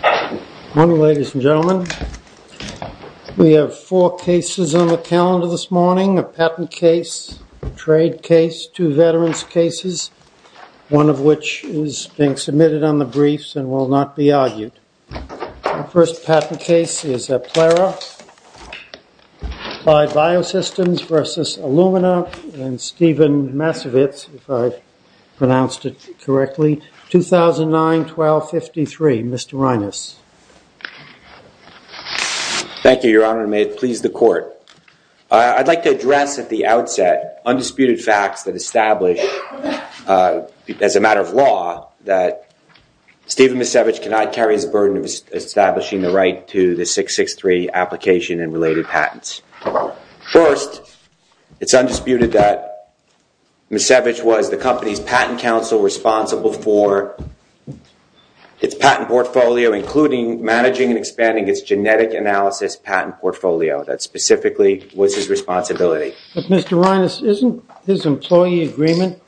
Good morning ladies and gentlemen. We have four cases on the calendar this morning, a patent case, a trade case, two veterans cases, one of which is being submitted on the briefs and will not be argued. The first patent case is Plera, Applied Biosystems v. Illumina and 1253. Mr. Reines. Thank you your honor. May it please the court. I'd like to address at the outset undisputed facts that establish as a matter of law that Steven Misiewicz cannot carry his burden of establishing the right to the 663 application and related patents. First, it's patent portfolio including managing and expanding its genetic analysis patent portfolio. That specifically was his responsibility. Mr. Reines, isn't his employee agreement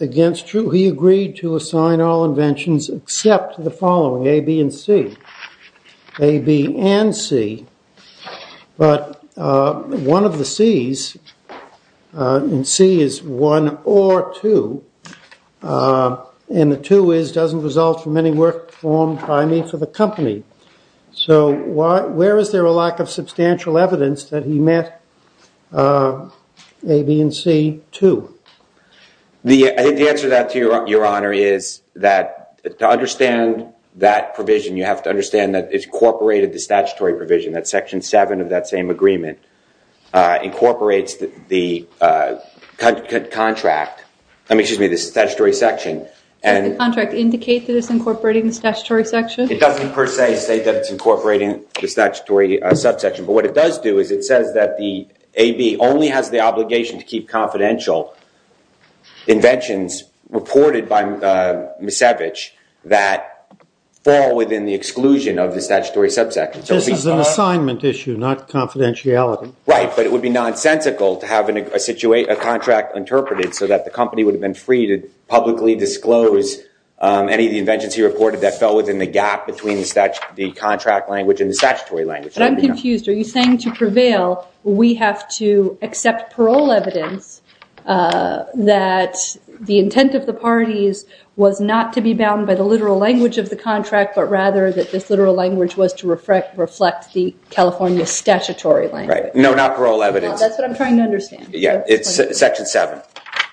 against true? He agreed to assign all inventions except the following, A, B and C. A, B and C, but one of the doesn't result from any work performed by me for the company. So where is there a lack of substantial evidence that he met A, B and C too? I think the answer to that your honor is that to understand that provision you have to understand that it's incorporated the statutory provision that section 7 of that same agreement incorporates the contract, excuse me, the statutory section. Does the contract indicate that it's incorporating the statutory section? It doesn't per se say that it's incorporating the statutory subsection, but what it does do is it says that the A, B only has the obligation to keep confidential inventions reported by Misiewicz that fall within the exclusion of the statutory subsection. This is an assignment issue not confidentiality. Right, but it would be nonsensical to have a contract interpreted so that the company would have been free to publicly disclose any of the inventions he reported that fell within the gap between the contract language and the statutory language. But I'm confused. Are you saying to prevail we have to accept parole evidence that the intent of the parties was not to be bound by the literal language of the contract, but rather that this literal language was to reflect the California statutory language? No, not parole evidence. That's what I'm trying to understand. Yeah, section 7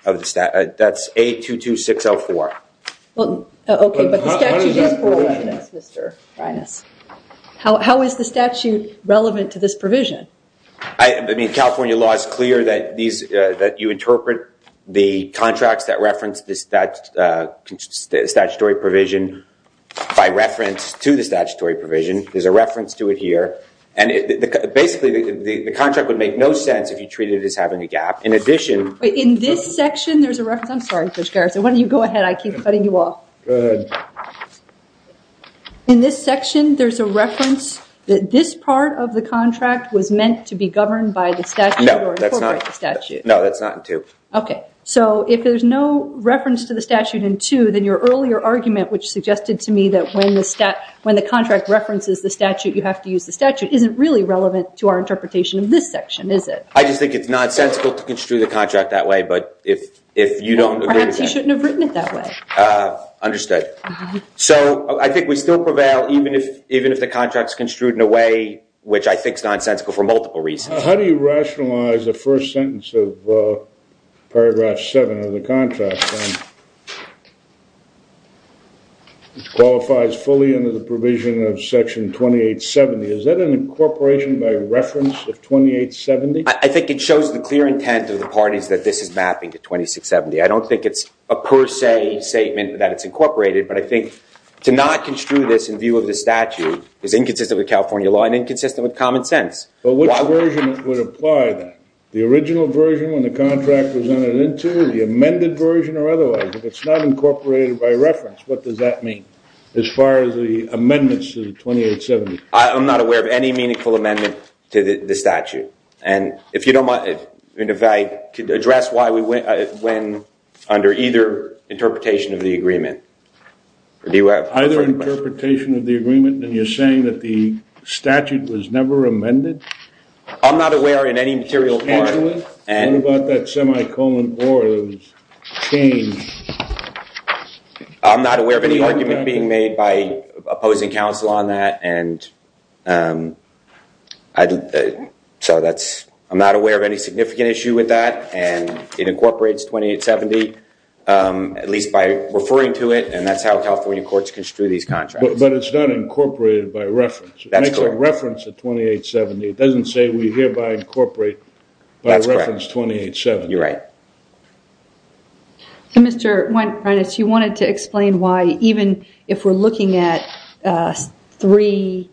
of the statute. That's A22604. Okay, but the statute is parole evidence, Mr. Reines. How is the statute relevant to this provision? I mean, California law is clear that you interpret the contracts that reference the statutory provision by reference to the statutory provision. There's a reference to it here. And basically the contract would make no sense if treated as having a gap. In this section, there's a reference that this part of the contract was meant to be governed by the statute. No, that's not in 2. Okay, so if there's no reference to the statute in 2, then your earlier argument, which suggested to me that when the contract references the statute, you have to use the statute, isn't really relevant to our interpretation of this section, is it? I just think it's nonsensical to construe the contract that way. But if you don't agree with that- Perhaps you shouldn't have written it that way. Understood. So I think we still prevail even if the contract's construed in a way which I think is nonsensical for multiple reasons. How do you rationalize the first sentence of paragraph 7 of the contract, which qualifies fully under the provision of section 2870? Is that an incorporation by 2870? I think it shows the clear intent of the parties that this is mapping to 2670. I don't think it's a per se statement that it's incorporated, but I think to not construe this in view of the statute is inconsistent with California law and inconsistent with common sense. But which version would apply then? The original version when the contract was entered into, the amended version, or otherwise? If it's not incorporated by reference, what does that mean as far as the amendment to the statute? And if I could address why we win under either interpretation of the agreement. Either interpretation of the agreement, then you're saying that the statute was never amended? I'm not aware in any material part. What about that semi-colon of change? I'm not aware of any argument being made by opposing counsel on that. So I'm not aware of any significant issue with that. And it incorporates 2870, at least by referring to it. And that's how California courts construe these contracts. But it's not incorporated by reference. It makes a reference to 2870. It doesn't say we hereby incorporate by reference 2870. You're right. So Mr. Reines, you wanted to explain why even if we're looking at C2,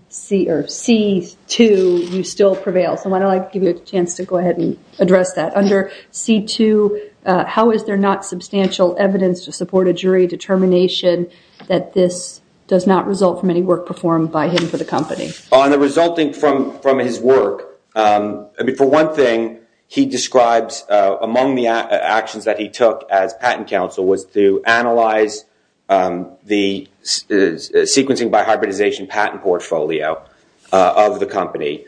you still prevail. So why don't I give you a chance to go ahead and address that. Under C2, how is there not substantial evidence to support a jury determination that this does not result from any work performed by him for the company? On the resulting from his work, for one thing, he describes among the actions that he took as patent counsel was to analyze the sequencing by hybridization patent portfolio of the company.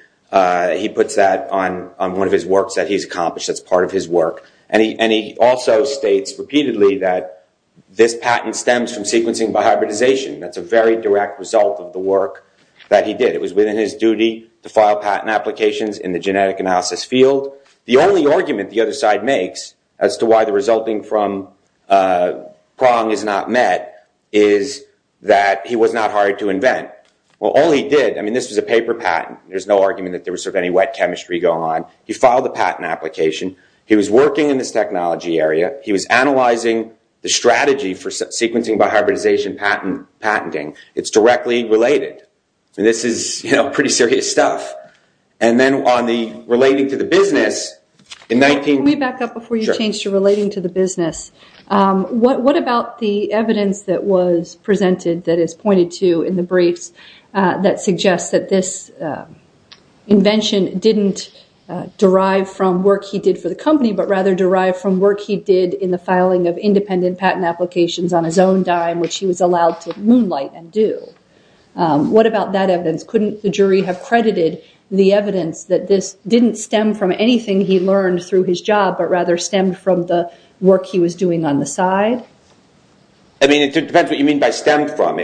He puts that on one of his works that he's accomplished as part of his work. And he also states repeatedly that this patent stems from sequencing by hybridization. That's a very direct result of the work that he did. It was within his duty to file patent applications in the genetic analysis field. The only argument the other side makes as to why the resulting from Prong is not met is that he was not hired to invent. Well, all he did, I mean, this was a paper patent. There's no argument that there was any wet chemistry going on. He filed the patent application. He was working in this technology area. He was analyzing the strategy for sequencing by hybridization patenting. It's directly related. This is pretty serious stuff. And then on the relating to the business, in 19... Can we back up before you change to relating to the business? What about the evidence that was presented that is pointed to in the briefs that suggests that this invention didn't derive from work he did for the company, but rather derived from work he did in the filing of independent patent applications on his own dime, which he was allowed to moonlight and do? What about that evidence? Couldn't the jury have credited the evidence that this didn't stem from anything he learned through his job, but rather stemmed from the work he was doing on the side? I mean, it depends what you mean by stemmed from.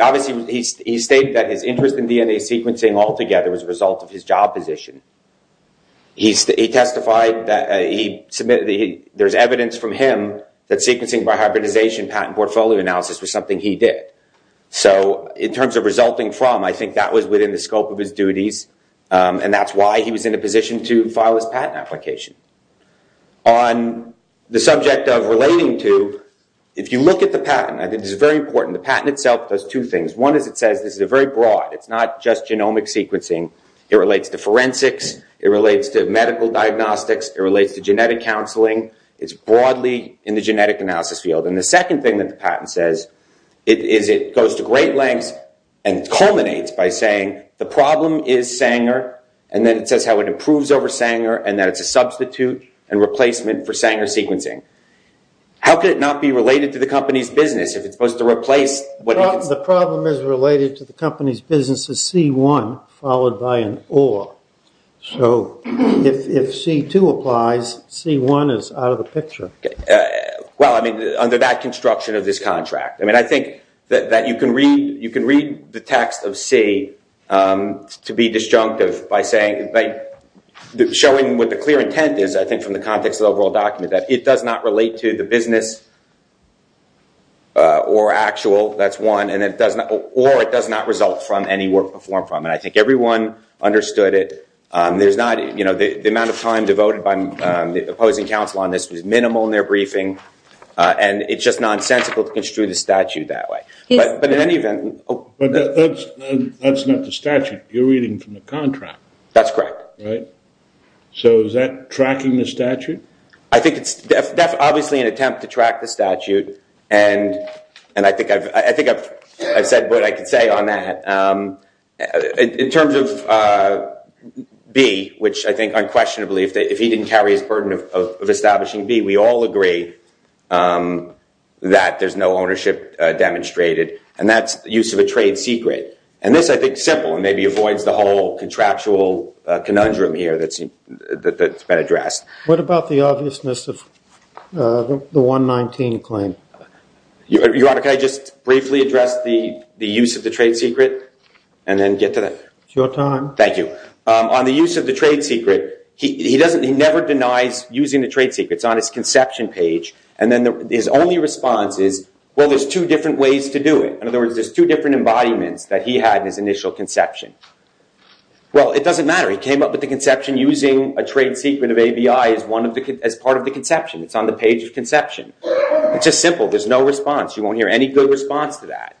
Obviously, he stated that his interest in DNA sequencing altogether was a result of his job position. He testified that there's evidence from him that sequencing by hybridization patent portfolio analysis was something he did. So, in terms of resulting from, I think that was within the scope of his duties, and that's why he was in a position to file his patent application. On the subject of relating to, if you look at the patent, I think this is very important, the patent itself does two things. One is it says this is a very broad, it's not just genomic sequencing, it relates to forensics, it relates to medical diagnostics, it relates to genetic counseling, it's broadly in the genetic analysis field. And the second thing that the patent says is it goes to great lengths and culminates by saying the problem is Sanger, and then it says how it improves over Sanger and that it's a substitute and replacement for Sanger sequencing. How could it not be related to the company's business if it's supposed to replace? The problem is related to the company's business as C1 followed by an or. So, if C2 applies, C1 is out of the picture. Well, I mean, under that construction of this contract. I mean, I think that you can read the text of C to be disjunctive by saying, showing what the clear intent is, I think, from the context of the overall document, that it does not relate to the business or actual, that's one, or it does not result from any work performed from it. I think everyone understood it. There's not, you know, the amount of time devoted by the opposing counsel on this was minimal in their briefing, and it's just nonsensical to construe the statute that way. But in any event... But that's not the statute. You're reading from the contract. That's correct. Right? So, is that tracking the statute? I think it's obviously an attempt to track the statute, and I think I've said what I can say on that. In terms of B, which I think unquestionably, if he didn't carry his burden of establishing B, we all agree that there's no ownership demonstrated, and that's use of a trade secret. And this, I think, simple and maybe avoids the whole contractual conundrum here that's been addressed. What about the obviousness of the 119 claim? Your Honor, can I just briefly address the use of the trade secret, and then get to that? It's your time. Thank you. On the use of the trade secret, he never denies using the trade secret. It's on his conception page, and then his only response is, well, there's two different ways to do it. In other words, there's two different embodiments that he had in his initial conception. Well, it doesn't matter. He came up with the conception using a trade secret of ABI as part of the conception. It's on the page of conception. It's just simple. There's no response. You won't hear any good response to that.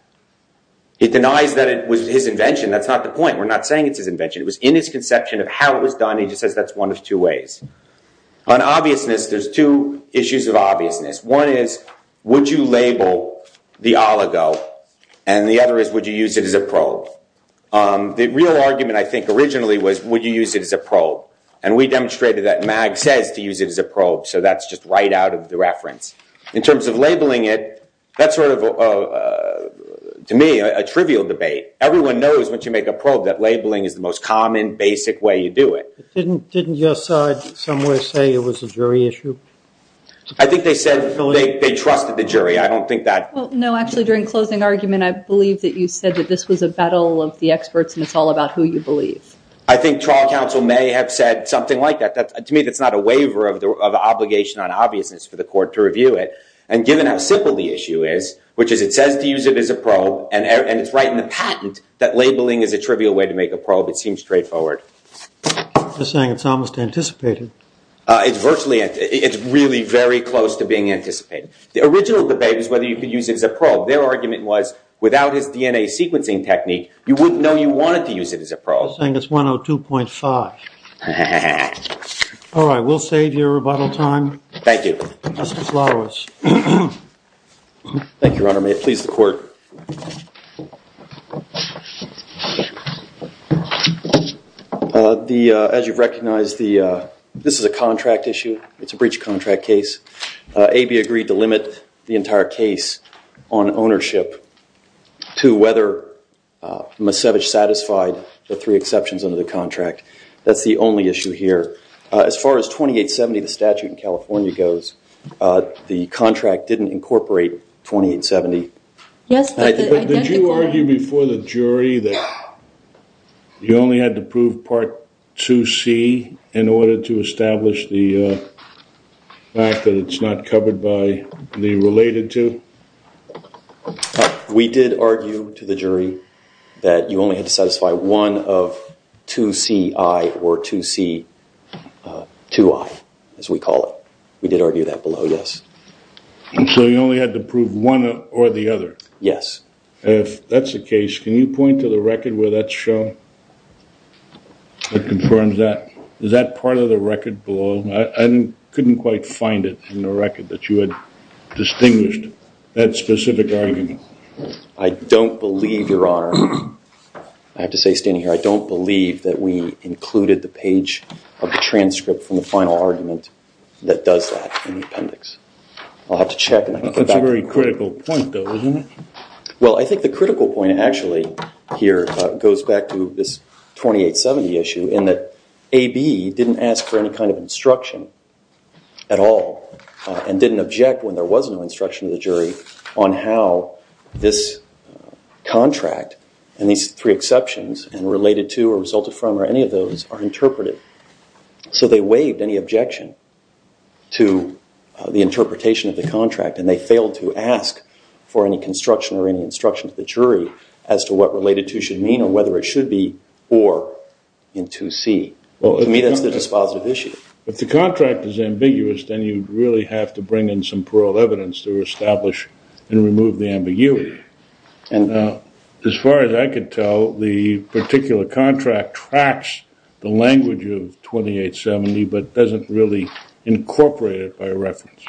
He denies that it was his invention. That's not the point. We're not saying it's his invention. It was in his conception of how it was done. He just says that's one of two ways. On obviousness, there's two issues of obviousness. One is, would you label the oligo? And the other is, would you use it as a probe? The real argument, I think, originally was, would you use it as a probe? And we demonstrated that MAG says to use it as a probe. So that's just right out of the reference. In terms of labeling it, that's sort of, to me, a trivial debate. Everyone knows, once you make a probe, that labeling is the most common, basic way you do it. Didn't your side somewhere say it was a jury issue? I think they said they trusted the jury. I don't think that- No, actually, during closing argument, I believe that you said that this was a battle of the experts, and it's all about who you believe. I think trial counsel may have said something like that. To me, that's not a waiver of the obligation on obviousness for the court to review it. And given how simple the issue is, which is it says to use it as a probe, and it's right in the patent that labeling is a trivial way to make a probe, it seems straightforward. They're saying it's almost anticipated. It's really very close to being anticipated. The original debate was whether you could use it as a probe. Their argument was, without his DNA sequencing technique, you wouldn't know you wanted to use it as a probe. They're saying it's 102.5. All right, we'll save your rebuttal time. Thank you. Thank you, Your Honor. May it please the court. As you've recognized, this is a contract issue. It's a breach of contract case. AB agreed to limit the entire case on ownership to whether Masevich satisfied the three exceptions under the contract. That's the only issue here. As far as 2870, the statute in California goes, the contract didn't incorporate 2870. Did you argue before the jury that you only had to prove Part 2C in order to establish the fact that it's not covered by the related to? We did argue to the jury that you only had to satisfy one of 2CI or 2C2I, as we call it. We did argue that below, yes. So you only had to prove one or the other? Yes. That's the case. Can you point to the record where that's shown? That confirms that. Is that part of the record below? I couldn't quite find it in the record that you had distinguished that specific argument. I don't believe, Your Honor, I have to say standing here, I don't believe that we included the page of the transcript from the final argument that does that in the appendix. I'll have to check. That's a very critical point, though, isn't it? Well, I think the critical point actually here goes back to this 2870 issue in that AB didn't ask for any kind of instruction at all and didn't object when there was no instruction of the jury on how this contract and these three exceptions and related to or resulted from or any of those are interpreted. So they waived any objection to the interpretation of the contract and they failed to ask for any construction or any instruction to the jury as to what related to should mean or whether it should be or in 2C. Well, to me, that's the dispositive issue. If the contract is ambiguous, then you really have to bring in some plural evidence to establish and remove the ambiguity. And as far as I could tell, the particular contract tracks the language of 2870 but doesn't really incorporate it by reference.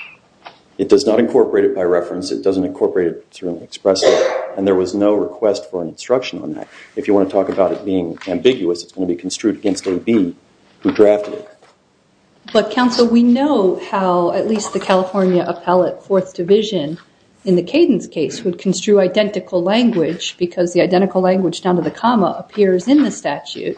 It does not incorporate it by reference. It doesn't incorporate it through expression. And there was no request for an instruction on that. If you want to talk about it being ambiguous, it's going to be construed against AB who drafted it. But counsel, we know how at least the California Appellate Fourth Division in the Cadence case would construe identical language because the identical language down to the comma appears in the statute.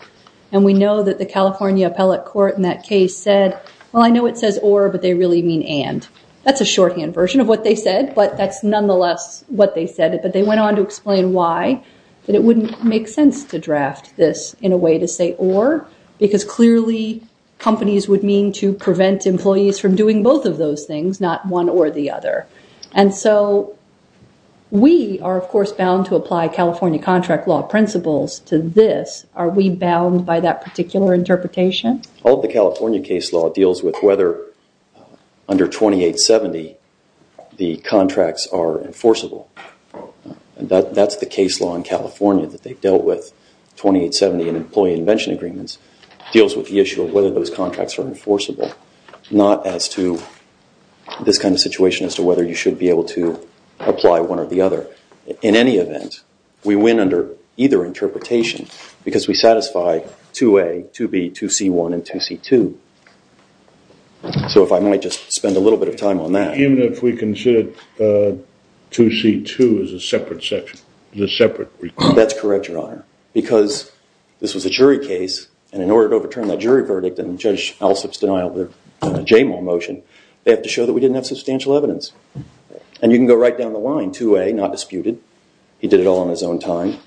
And we know that the California Appellate Court in that case said, well, I know it says or, but they really mean and. That's a shorthand version of what they said. But that's nonetheless what they said. But they went on to explain why that it wouldn't make sense to draft this in a way to say or because clearly companies would mean to prevent employees from doing both of those things, not one or the other. And so we are, of course, bound to apply California contract law principles to this. Are we bound by that particular interpretation? All of the California case law deals with whether under 2870 the contracts are enforceable. And that's the case law in California that they've dealt with. 2870 in employee invention agreements deals with the issue of whether those contracts are enforceable, not as to this kind of situation as to whether you should be able to apply one or the other. In any event, we win under either interpretation because we satisfy 2A, 2B, 2C1, and 2C2. So if I might just spend a little bit of time on that. Even if we consider 2C2 as a separate section, as a separate requirement. That's correct, Your Honor. Because this was a jury case. And in order to overturn that jury verdict and Judge Alsop's denial of the Jamal motion, they have to show that we didn't have substantial evidence. And you can go right down the line. 2A, not disputed. He did it all on his own time.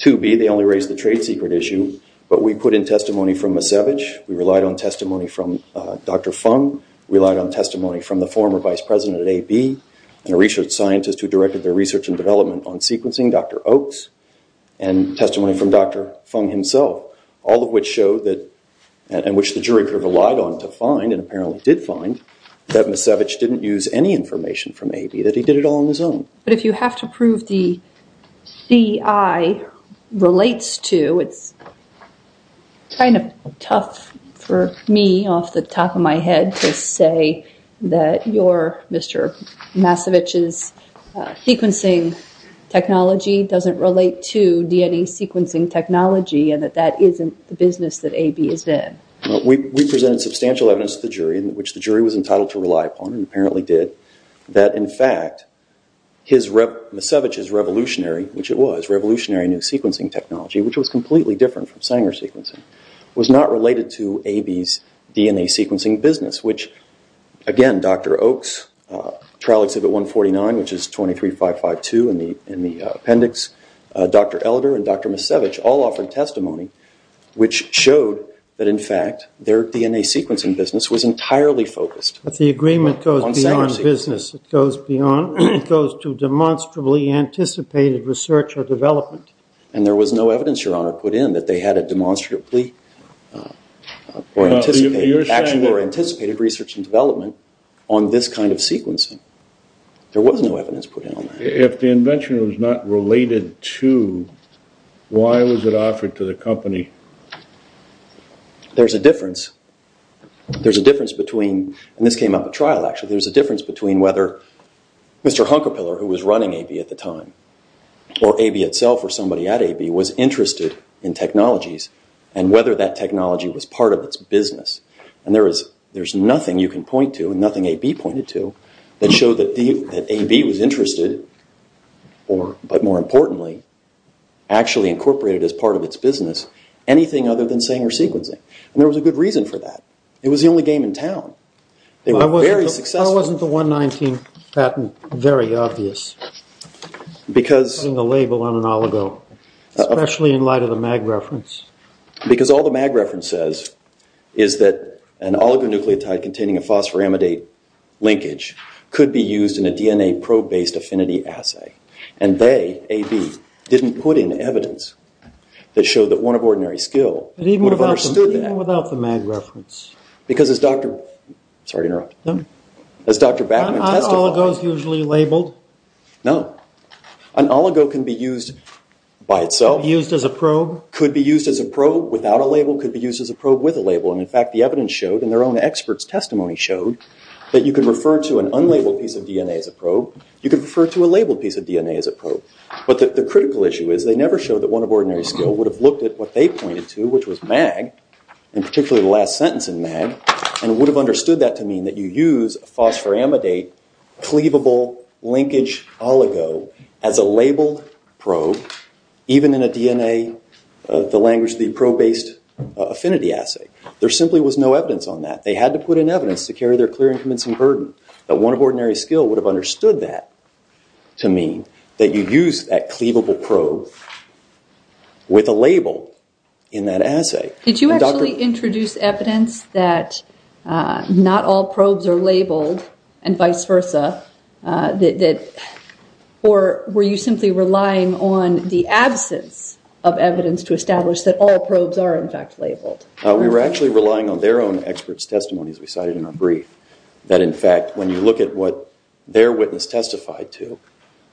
2B, they only raised the trade secret issue. But we put in testimony from Macevic. We relied on testimony from Dr. Fung. We relied on testimony from the former vice president at AB and a research scientist who directed their research and development on sequencing, Dr. Oaks. And testimony from Dr. Fung himself. All of which showed that, and which the jury relied on to find, and apparently did find, that Macevic didn't use any information from AB. That he did it all on his own. But if you have to prove the CI relates to, it's kind of tough for me off the top of my head to say that your, Mr. Macevic's sequencing technology doesn't relate to DNA sequencing technology. And that that isn't the business that AB is in. We presented substantial evidence to the jury, which the jury was entitled to rely upon, and apparently did, that in fact, Macevic's revolutionary, which it was, revolutionary new sequencing technology, which was completely different from Sanger sequencing, was not related to AB's DNA sequencing business. Which, again, Dr. Oaks, trial exhibit 149, which is 23552 in the appendix, Dr. Elder and Dr. Macevic all offered testimony which showed that, in fact, their DNA sequencing business was entirely focused on Sanger sequencing. But the agreement goes beyond business. It goes beyond, it goes to demonstrably anticipated research or development. And there was no evidence, Your Honor, put in that they had a demonstrably, or anticipated, actual or anticipated research and development on this kind of sequencing. There was no evidence put in on that. If the invention was not related to, why was it offered to the company? There's a difference. There's a difference between, and this came up at trial, actually, there's a difference between whether Mr. Hunkerpiller, who was running AB at the time, or AB itself, or somebody at AB, was interested in technologies and whether that technology was part of its business. And there is, there's nothing you can point to and nothing AB pointed to that showed that AB was interested or, but more importantly, actually incorporated as part of its business anything other than Sanger sequencing. And there was a good reason for that. It was the only game in town. They were very successful. Why wasn't the 119 patent very obvious? Because... Putting a label on an oligo, especially in light of the MAG reference. Because all the MAG reference says is that an oligo nucleotide containing a phosphoramidate linkage could be used in a DNA probe-based affinity assay. And they, AB, didn't put in evidence that showed that one of ordinary skill would have understood that. Even without the MAG reference. Because as Dr... Sorry to interrupt. No. As Dr. Batman testified... Are oligos usually labeled? No. An oligo can be used by itself. Used as a probe? Could be used as a probe without a label, could be used as a probe with a label. And in fact, the evidence showed, and their own experts' testimony showed, that you can refer to an unlabeled piece of DNA as a probe. You can refer to a labeled piece of DNA as a probe. But the critical issue is they never showed that one of ordinary skill would have looked at what they pointed to, which was MAG, and particularly the last sentence in MAG, and would have understood that to mean that you use a phosphoramidate cleavable linkage oligo as a labeled probe, even in a DNA, the language, the probe-based affinity assay. There simply was no evidence on that. They had to put in evidence to carry their clear and convincing burden, that one of ordinary skill would have understood that to mean that you use that cleavable probe with a label in that assay. Did you actually introduce evidence that not all probes are labeled and vice versa? Or were you simply relying on the absence of evidence to establish that all probes are, in fact, labeled? We were actually relying on their own experts' testimony, as we cited in our brief, that, in fact, when you look at what their witness testified to,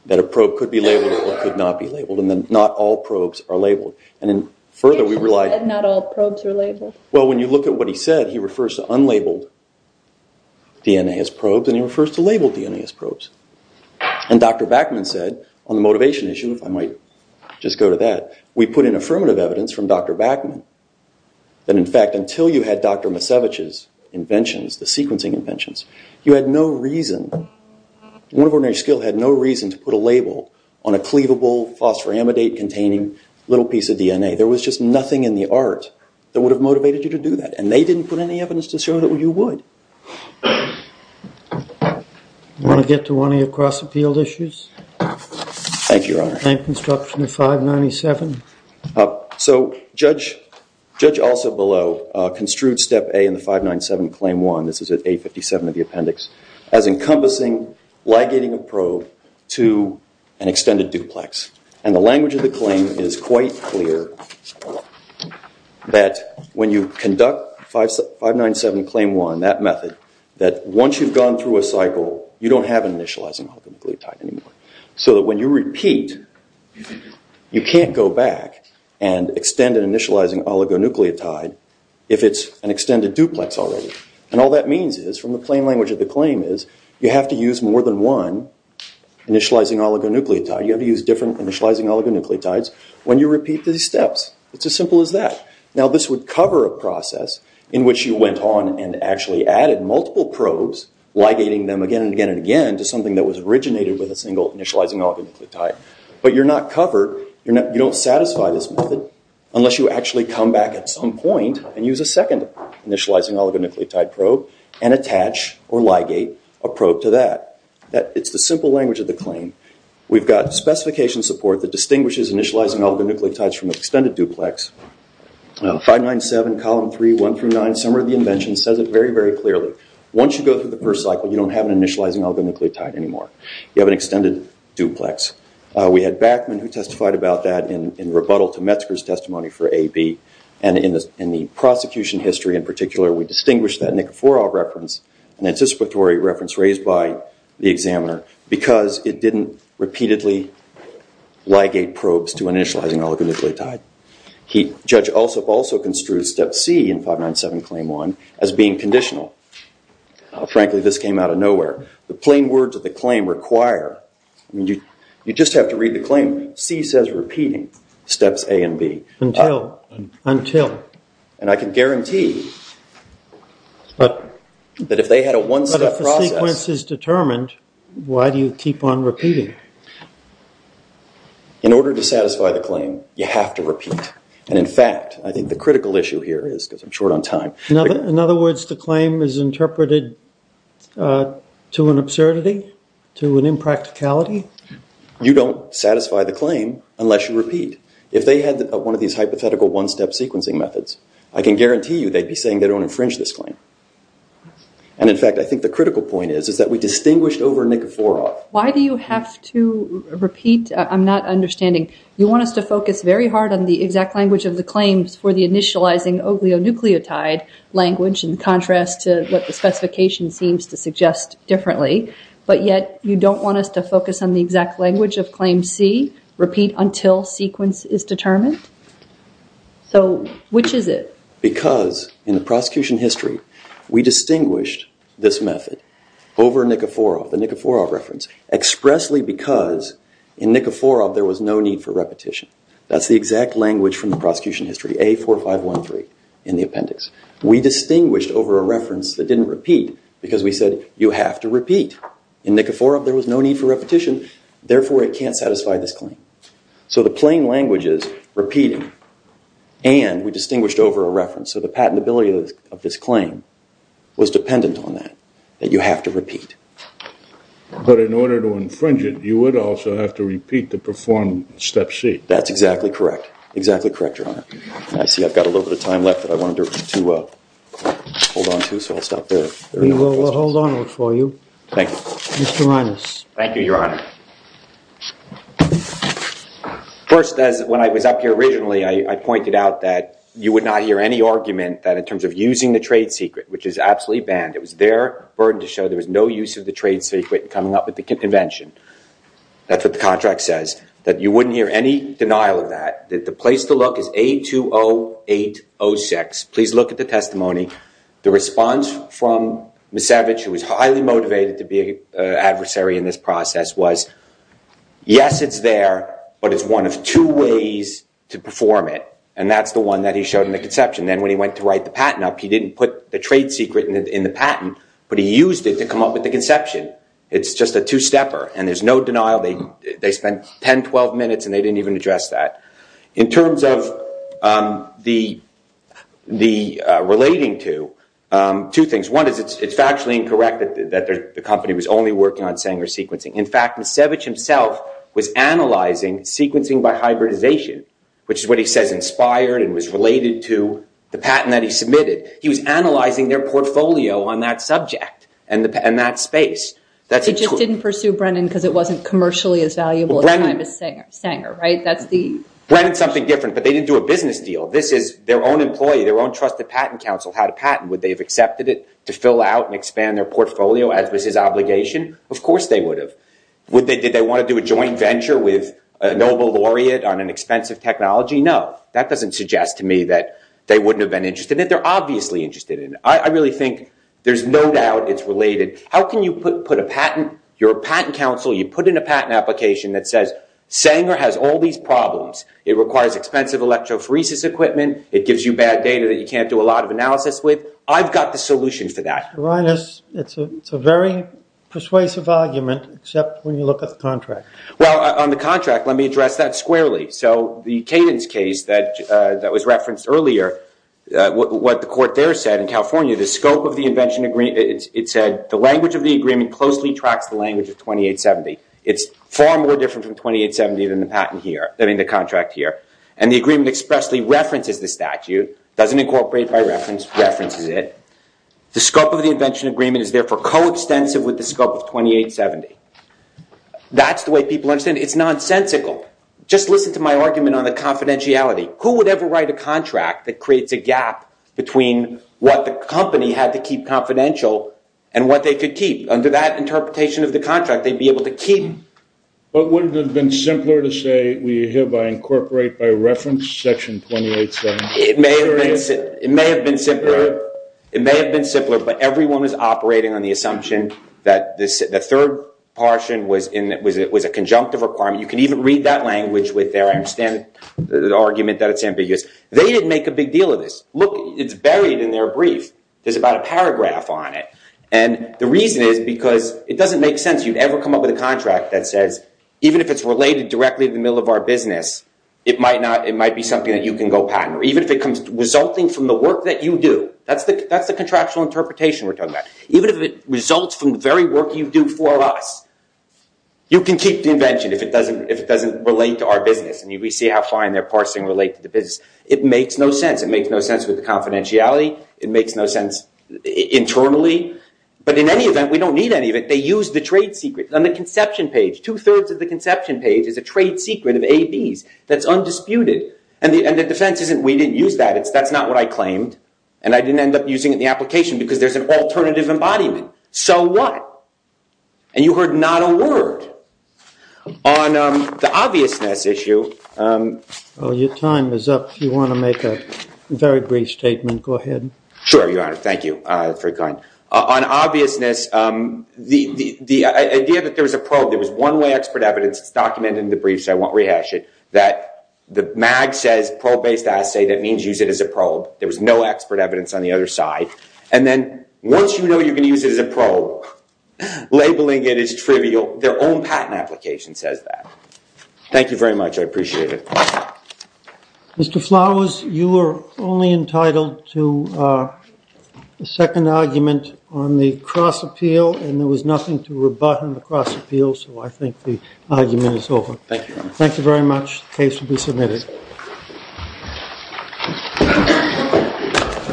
that a probe could be labeled or could not be labeled, and that not all probes are labeled. And then further, we relied... Not all probes are labeled? Well, when you look at what he said, he refers to unlabeled DNA as probes, and he refers to labeled DNA as probes. And Dr. Bachman said, on the motivation issue, if I might just go to that, we put in affirmative evidence from Dr. Bachman that, in fact, until you had Dr. Macevich's inventions, the sequencing inventions, you had no reason... One of ordinary skill had no reason to put a label on a cleavable phosphoramidate-containing little piece of DNA. There was just nothing in the art that would have motivated you to do that, and they didn't put any evidence to show that you would. I want to get to one of your cross-appealed issues. Thank you, Your Honor. And construction of 597? So, Judge Alsop below construed Step A in the 597 Claim 1, this is at A57 of the appendix, as encompassing, ligating a probe to an extended duplex. And the language of the claim is quite clear, that when you conduct 597 Claim 1, that method, that once you've gone through a cycle, you don't have an initializing alkyl gluotide anymore. So that when you repeat, you can't go back and extend an initializing oligonucleotide if it's an extended duplex already. And all that means is, from the plain language of the claim is, you have to use more than one initializing oligonucleotide. You have to use different initializing oligonucleotides when you repeat these steps. It's as simple as that. Now, this would cover a process in which you went on and actually added multiple probes, ligating them again and again and again, to something that was originated with a single initializing oligonucleotide. But you're not covered, you don't satisfy this method, unless you actually come back at some point, and use a second initializing oligonucleotide probe, and attach or ligate a probe to that. It's the simple language of the claim. We've got specification support that distinguishes initializing oligonucleotides from extended duplex. 597 Column 3, 1 through 9, Summary of the Invention says it very, very clearly. Once you go through the first cycle, you don't have an initializing oligonucleotide anymore. You have an extended duplex. We had Backman, who testified about that in rebuttal to Metzger's testimony for AB. And in the prosecution history, in particular, we distinguished that nicophorol reference, an anticipatory reference raised by the examiner, because it didn't repeatedly ligate probes to an initializing oligonucleotide. Judge Alsop also construed Step C in 597 Claim 1 as being conditional. Frankly, this came out of nowhere. The plain words of the claim require, I mean, you just have to read the claim. C says repeating Steps A and B. Until. And I can guarantee that if they had a one-step process. But if the sequence is determined, why do you keep on repeating? In order to satisfy the claim, you have to repeat. And in fact, I think the critical issue here is, because I'm short on time. In other words, the claim is interpreted to an absurdity, to an impracticality? You don't satisfy the claim unless you repeat. If they had one of these hypothetical one-step sequencing methods, I can guarantee you they'd be saying they don't infringe this claim. And in fact, I think the critical point is, is that we distinguished over nicophorol. Why do you have to repeat? I'm not understanding. You want us to focus very hard on the exact language of the claims for the initializing oglionucleotide language, in contrast to what the specification seems to suggest differently. But yet, you don't want us to focus on the exact language of Claim C. Repeat until sequence is determined. So which is it? Because in the prosecution history, we distinguished this method over nicophorol, the nicophorol reference, expressly because in nicophorol, there was no need for repetition. That's the exact language from the prosecution history. A4513 in the appendix. We distinguished over a reference that didn't repeat because we said, you have to repeat. In nicophorol, there was no need for repetition. Therefore, it can't satisfy this claim. So the plain language is repeating. And we distinguished over a reference. So the patentability of this claim was dependent on that, that you have to repeat. But in order to infringe it, you would also have to repeat to perform Step C. That's exactly correct. Exactly correct, Your Honor. I see I've got a little bit of time left that I wanted to hold on to, so I'll stop there. We will hold on for you. Thank you. Mr. Reines. Thank you, Your Honor. First, when I was up here originally, I pointed out that you would not hear any argument that in terms of using the trade secret, which is absolutely banned. It was their burden to show there was no use of the trade secret coming up with the convention. That's what the contract says, that you wouldn't hear any denial of that. The place to look is A20806. Please look at the testimony. The response from Misevich, who was highly motivated to be an adversary in this process, was, yes, it's there, but it's one of two ways to perform it. And that's the one that he showed in the conception. Then when he went to write the patent up, he didn't put the trade secret in the patent, but he used it to come up with the conception. It's just a two-stepper. And there's no denial. They spent 10, 12 minutes, and they didn't even address that. In terms of the relating to, two things. One is it's factually incorrect that the company was only working on Sanger sequencing. In fact, Misevich himself was analyzing sequencing by hybridization, which is what he says inspired and was related to the patent that he submitted. He was analyzing their portfolio on that subject and that space. They just didn't pursue Brennan because it wasn't commercially as valuable at the time as Sanger, right? Brennan's something different, but they didn't do a business deal. This is their own employee, their own trusted patent counsel had a patent. Would they have accepted it to fill out and expand their portfolio as was his obligation? Of course they would have. Did they want to do a joint venture with a Nobel laureate on an expensive technology? No. That doesn't suggest to me that they wouldn't have been interested in it. They're obviously interested in it. I really think there's no doubt it's related. How can you put a patent, you're a patent counsel, you put in a patent application that Sanger has all these problems. It requires expensive electrophoresis equipment. It gives you bad data that you can't do a lot of analysis with. I've got the solution for that. Your Honor, it's a very persuasive argument except when you look at the contract. Well, on the contract, let me address that squarely. So the Cadence case that was referenced earlier, what the court there said in California, the scope of the invention agreement, it said the language of the agreement closely tracks the language of 2870. It's far more different from 2870 than the contract here. And the agreement expressly references the statute, doesn't incorporate by reference, references it. The scope of the invention agreement is therefore coextensive with the scope of 2870. That's the way people understand it. It's nonsensical. Just listen to my argument on the confidentiality. Who would ever write a contract that creates a gap between what the company had to keep confidential and what they could keep? Under that interpretation of the contract, they'd be able to keep. But wouldn't it have been simpler to say, we hereby incorporate by reference section 2870? It may have been simpler. It may have been simpler, but everyone was operating on the assumption that the third portion was a conjunctive requirement. You can even read that language with their, I understand the argument that it's ambiguous. They didn't make a big deal of this. Look, it's buried in their brief. There's about a paragraph on it. The reason is because it doesn't make sense you'd ever come up with a contract that says, even if it's related directly to the middle of our business, it might be something that you can go patent. Or even if it comes resulting from the work that you do, that's the contractual interpretation we're talking about. Even if it results from the very work you do for us, you can keep the invention if it doesn't relate to our business. We see how fine their parsing relates to the business. It makes no sense. It makes no sense with the confidentiality. It makes no sense internally. But in any event, we don't need any of it. They use the trade secret. On the conception page, two-thirds of the conception page is a trade secret of ABs that's undisputed. And the defense isn't we didn't use that. That's not what I claimed. And I didn't end up using it in the application because there's an alternative embodiment. So what? And you heard not a word. On the obviousness issue. Your time is up. If you want to make a very brief statement, go ahead. Sure, Your Honor. Thank you for your kind. On obviousness, the idea that there was a probe, there was one-way expert evidence. It's documented in the briefs. I won't rehash it. That the mag says probe-based assay. That means use it as a probe. There was no expert evidence on the other side. And then once you know you're going to use it as a probe, labeling it is trivial. Their own patent application says that. Thank you very much. I appreciate it. Mr. Flowers, you are only entitled to a second argument on the cross-appeal. And there was nothing to rebut on the cross-appeal. So I think the argument is over. Thank you. Thank you very much. The case will be submitted.